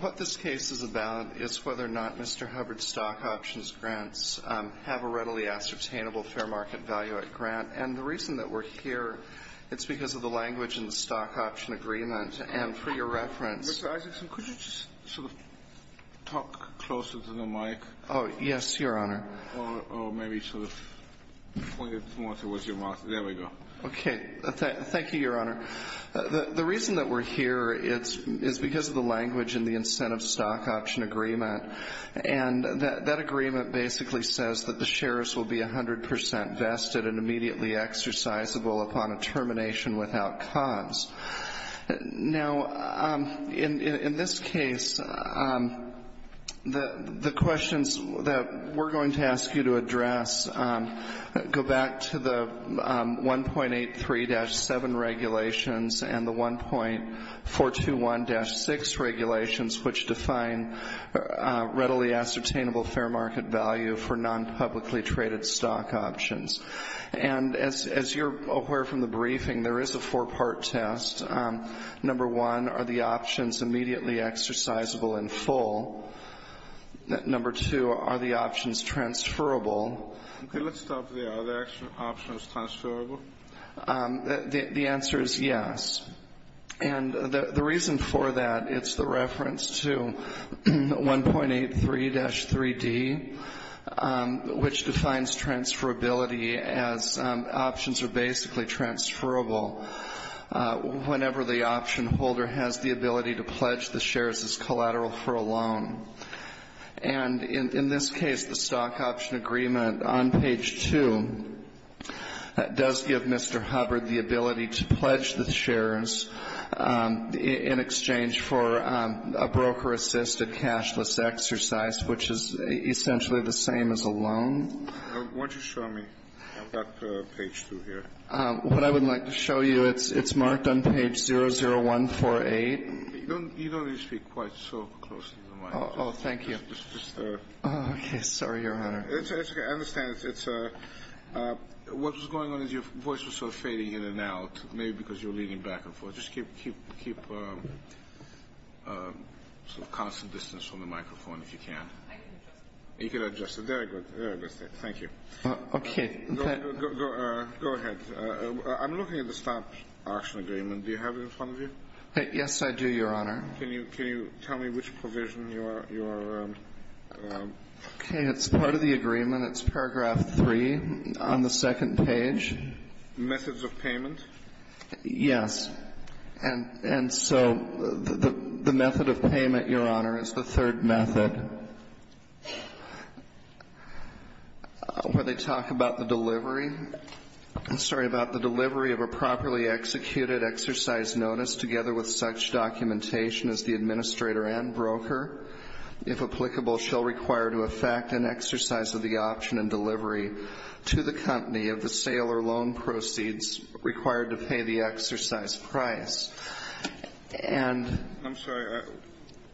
What this case is about is whether or not Mr. Hubbard's stock options grants have a readily ascertainable fair market value at grant. And the reason that we're here, it's because of the language in the stock option agreement. And for your reference- Mr. Isaacson, could you just sort of talk closer to the mic? Oh, yes, Your Honor. Or maybe sort of point it more towards your mouth. There we go. Okay. Thank you, Your Honor. The reason that we're here is because of the language in the incentive stock option agreement. And that agreement basically says that the shares will be 100 percent vested and immediately exercisable upon a termination without cons. Now, in this case, the questions that we're going to ask you to address go back to the 1.83-7 regulations and the 1.421-6 regulations, which define readily ascertainable fair market value for non-publicly traded stock options. And as you're aware from the briefing, there is a full. Number two, are the options transferable? Okay. Let's stop there. Are the options transferable? The answer is yes. And the reason for that, it's the reference to 1.83-3D, which defines transferability as options are basically transferable whenever the option holder has the ability to pledge the shares as collateral for a loan. And in this case, the stock option agreement on page 2 does give Mr. Hubbard the ability to pledge the shares in exchange for a broker-assisted cashless exercise, which is essentially the same as a loan. Why don't you show me? I've got page 2 here. What I would like to show you, it's marked on page 00148. You don't need to speak quite so close to the mic. Oh, thank you. Okay. Sorry, Your Honor. It's okay. I understand. What was going on is your voice was sort of fading in and out, maybe because you were leaning back and forth. Just keep constant distance from the microphone if you can. I can adjust it. You can adjust it. Very good. Very good. Thank you. Okay. Go ahead. I'm looking at the stock option agreement. Do you have it in front of you? Yes, I do, Your Honor. Can you tell me which provision you are on? Okay. It's part of the agreement. It's paragraph 3 on the second page. Methods of payment? Yes. And so the method of payment, Your Honor, is the third method where they talk about the delivery of a properly executed exercise notice together with such documentation as the administrator and broker, if applicable, shall require to effect an exercise of the option and delivery to the company of the sale or loan proceeds required to pay the exercise price. I'm sorry.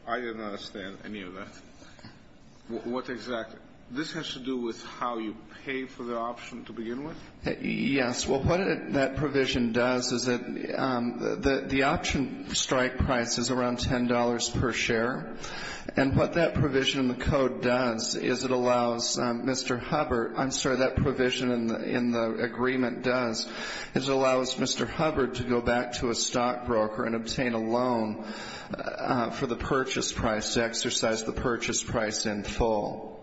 I did not understand any of that. What exactly? This has to do with how you pay for the option to begin with? Yes. Well, what that provision does is that the option strike price is around $10 per share. And what that provision in the code does is it allows Mr. Hubbard — I'm sorry, that provision in the agreement does is it allows Mr. Hubbard to go back to a stock price in full.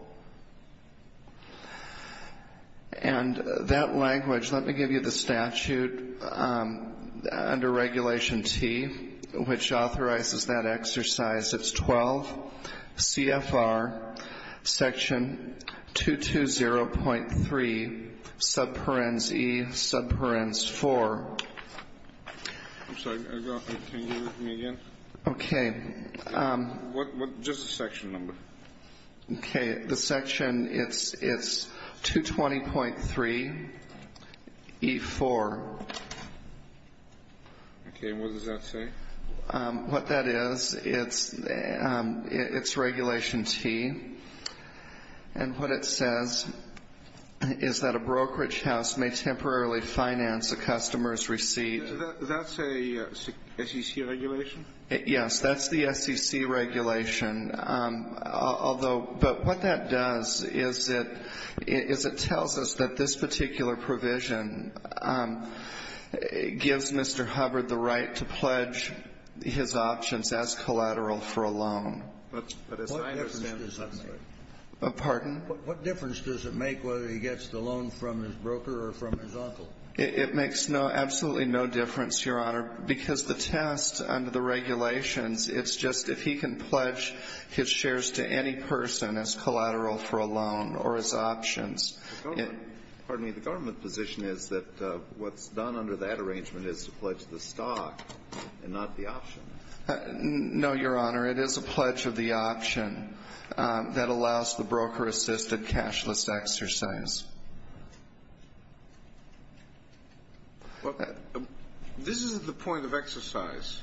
And that language — let me give you the statute under Regulation T, which authorizes that exercise. It's 12 CFR section 220.3 subparens E subparens 4. I'm sorry. Can you hear me again? Okay. Just the section number. Okay. The section, it's 220.3 E4. Okay. And what does that say? What that is, it's Regulation T. And what it says is that a brokerage house may temporarily finance a customer's receipt. That's a SEC regulation? Yes. That's the SEC regulation. Although — but what that does is it tells us that this particular provision gives Mr. Hubbard the right to pledge his options as collateral for a loan. What difference does it make? Pardon? What difference does it make whether he gets the loan from his broker or from his uncle? It makes absolutely no difference, Your Honor, because the test under the regulations, it's just if he can pledge his shares to any person as collateral for a loan or as options. Pardon me. The government position is that what's done under that arrangement is to pledge the stock and not the option. No, Your Honor. It is a pledge of the option that allows the broker-assisted cashless exercise. Well, this is the point of exercise.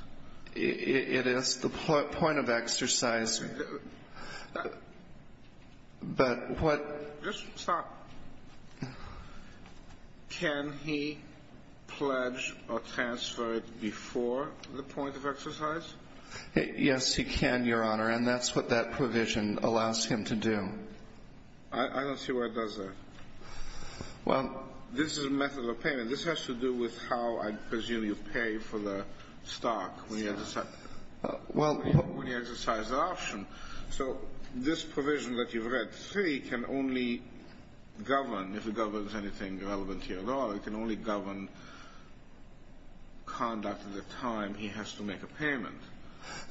It is the point of exercise. But what — Just stop. Can he pledge or transfer it before the point of exercise? Yes, he can, Your Honor. And that's what that provision allows him to do. I don't see why it does that. Well — This is a method of payment. This has to do with how, I presume, you pay for the stock when you exercise the option. So this provision that you've read, 3, can only govern, if it governs anything relevant to your law, it can only govern conduct at the time he has to make a payment.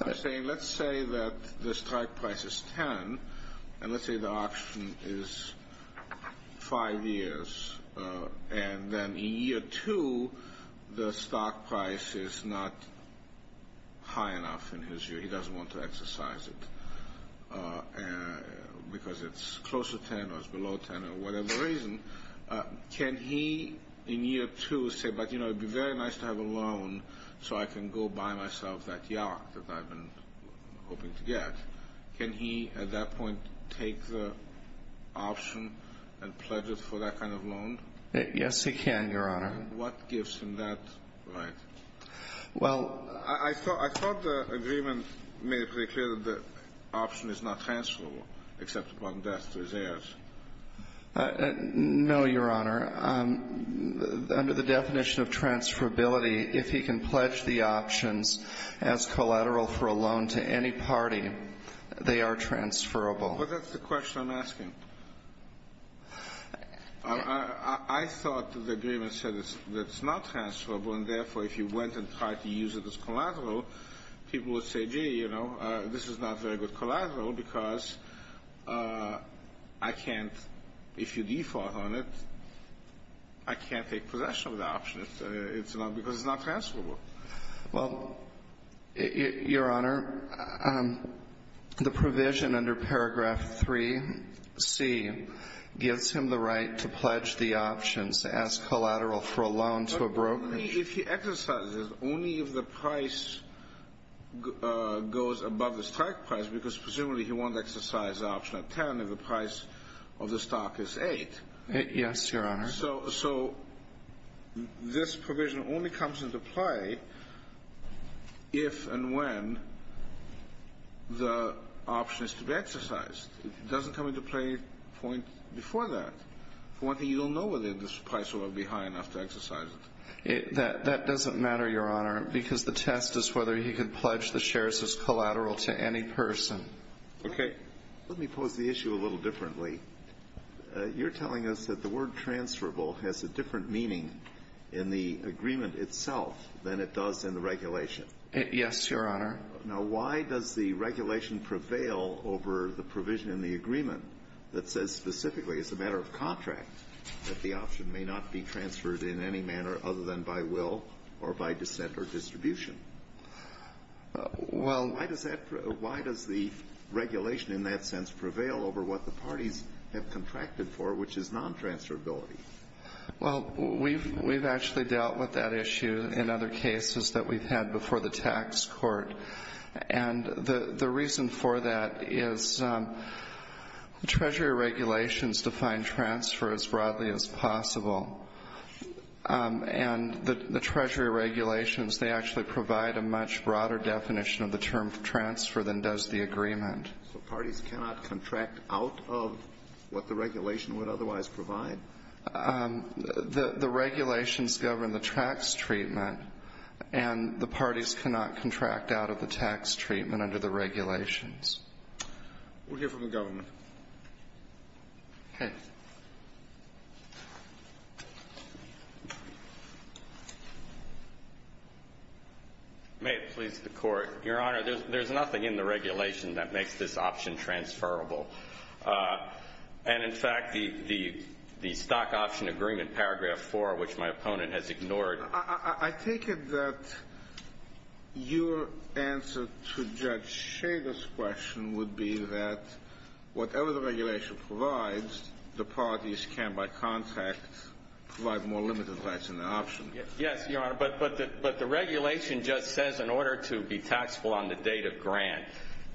I'm saying, let's say that the strike price is 10 and let's say the option is 5 years and then in year 2, the stock price is not high enough in his view. He doesn't want to exercise it because it's close to 10 or it's below 10 or whatever reason. Can he, in year 2, say, but you know, it would be very nice to have a loan so I can go buy myself that yacht that I've been hoping to get. Can he at that point take the option and pledge it for that kind of loan? Yes, he can, Your Honor. What gives him that right? Well — I thought the agreement made it pretty clear that the option is not transferable except upon death to his heirs. No, Your Honor. Under the definition of transferability, if he can pledge the options as collateral for a loan to any party, they are transferable. But that's the question I'm asking. I thought the agreement said it's not transferable and therefore if you went and tried to use it as collateral, people would say, gee, you know, this is not very good collateral because I can't — if you default on it, I can't take possession of the option because it's not transferable. Well, Your Honor, the provision under Paragraph 3c gives him the right to pledge the options as collateral for a loan to a broker. If he exercises, only if the price goes above the stock price because presumably he won't exercise the option at 10 if the price of the stock is 8. Yes, Your Honor. So this provision only comes into play if and when the option is to be exercised. It doesn't come into play before that. For one thing, you don't know whether the price will be high enough to exercise it. That doesn't matter, Your Honor, because the test is whether he can pledge the shares as collateral to any person. Okay. Let me pose the issue a little differently. You're telling us that the word transferable has a different meaning in the agreement itself than it does in the regulation. Yes, Your Honor. Now, why does the regulation prevail over the provision in the agreement that says specifically, as a matter of contract, that the option may not be transferred in any manner other than by will or by dissent or distribution? Why does the regulation in that sense prevail over what the parties have contracted for, which is non-transferability? Well, we've actually dealt with that issue in other cases that we've had before the tax court. And the reason for that is Treasury regulations define transfer as broadly as possible. And the Treasury regulations, they actually provide a much broader definition of the term transfer than does the agreement. So parties cannot contract out of what the regulation would otherwise provide? The regulations govern the tax treatment, and the parties cannot contract out of the tax treatment under the regulations. We'll hear from the government. Okay. May it please the Court. Your Honor, there's nothing in the regulation that makes this option transferable. And, in fact, the stock option agreement, paragraph 4, which my opponent has ignored I take it that your answer to Judge Shader's question would be that whatever the parties can by contract provide more limited rights in the option. Yes, Your Honor. But the regulation just says in order to be taxable on the date of grant,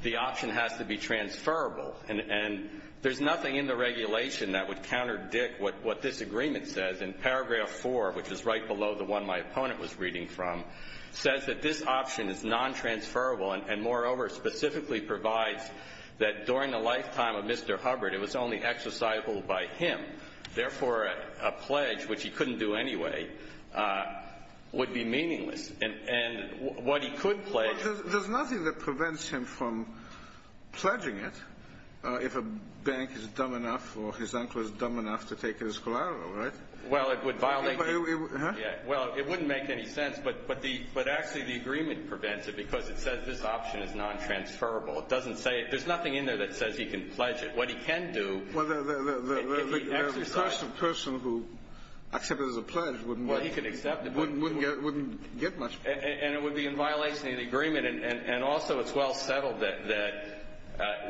the option has to be transferable. And there's nothing in the regulation that would counterdict what this agreement says. And paragraph 4, which is right below the one my opponent was reading from, says that this option is non-transferable and, moreover, specifically provides that during the lifetime of Mr. Hubbard, it was only exercisable by him. Therefore, a pledge, which he couldn't do anyway, would be meaningless. And what he could pledge – Well, there's nothing that prevents him from pledging it if a bank is dumb enough or his uncle is dumb enough to take his collateral, right? Well, it would violate – Huh? Yeah. Well, it wouldn't make any sense. But actually the agreement prevents it because it says this option is non-transferable. It doesn't say – there's nothing in there that says he can pledge it. What he can do – Well, the person who accepts it as a pledge wouldn't – Well, he could accept it but – Wouldn't get much – And it would be in violation of the agreement. And also it's well settled that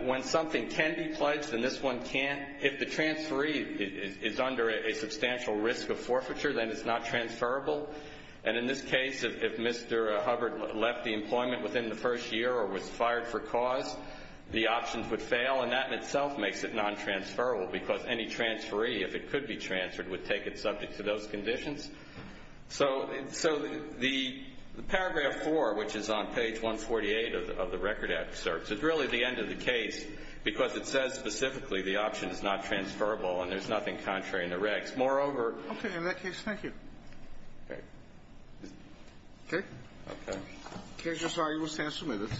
when something can be pledged and this one can't, if the transferee is under a substantial risk of forfeiture, then it's not transferable. And in this case, if Mr. Hubbard left the employment within the first year or was fired for cause, the options would fail, and that in itself makes it non-transferable because any transferee, if it could be transferred, would take it subject to those conditions. So the paragraph 4, which is on page 148 of the record excerpt, is really the end of the case because it says specifically the option is not transferable and there's nothing contrary in the recs. Moreover – Okay. Thank you. In that case, thank you. Okay. Okay? Okay. The case is now able to stand submitted.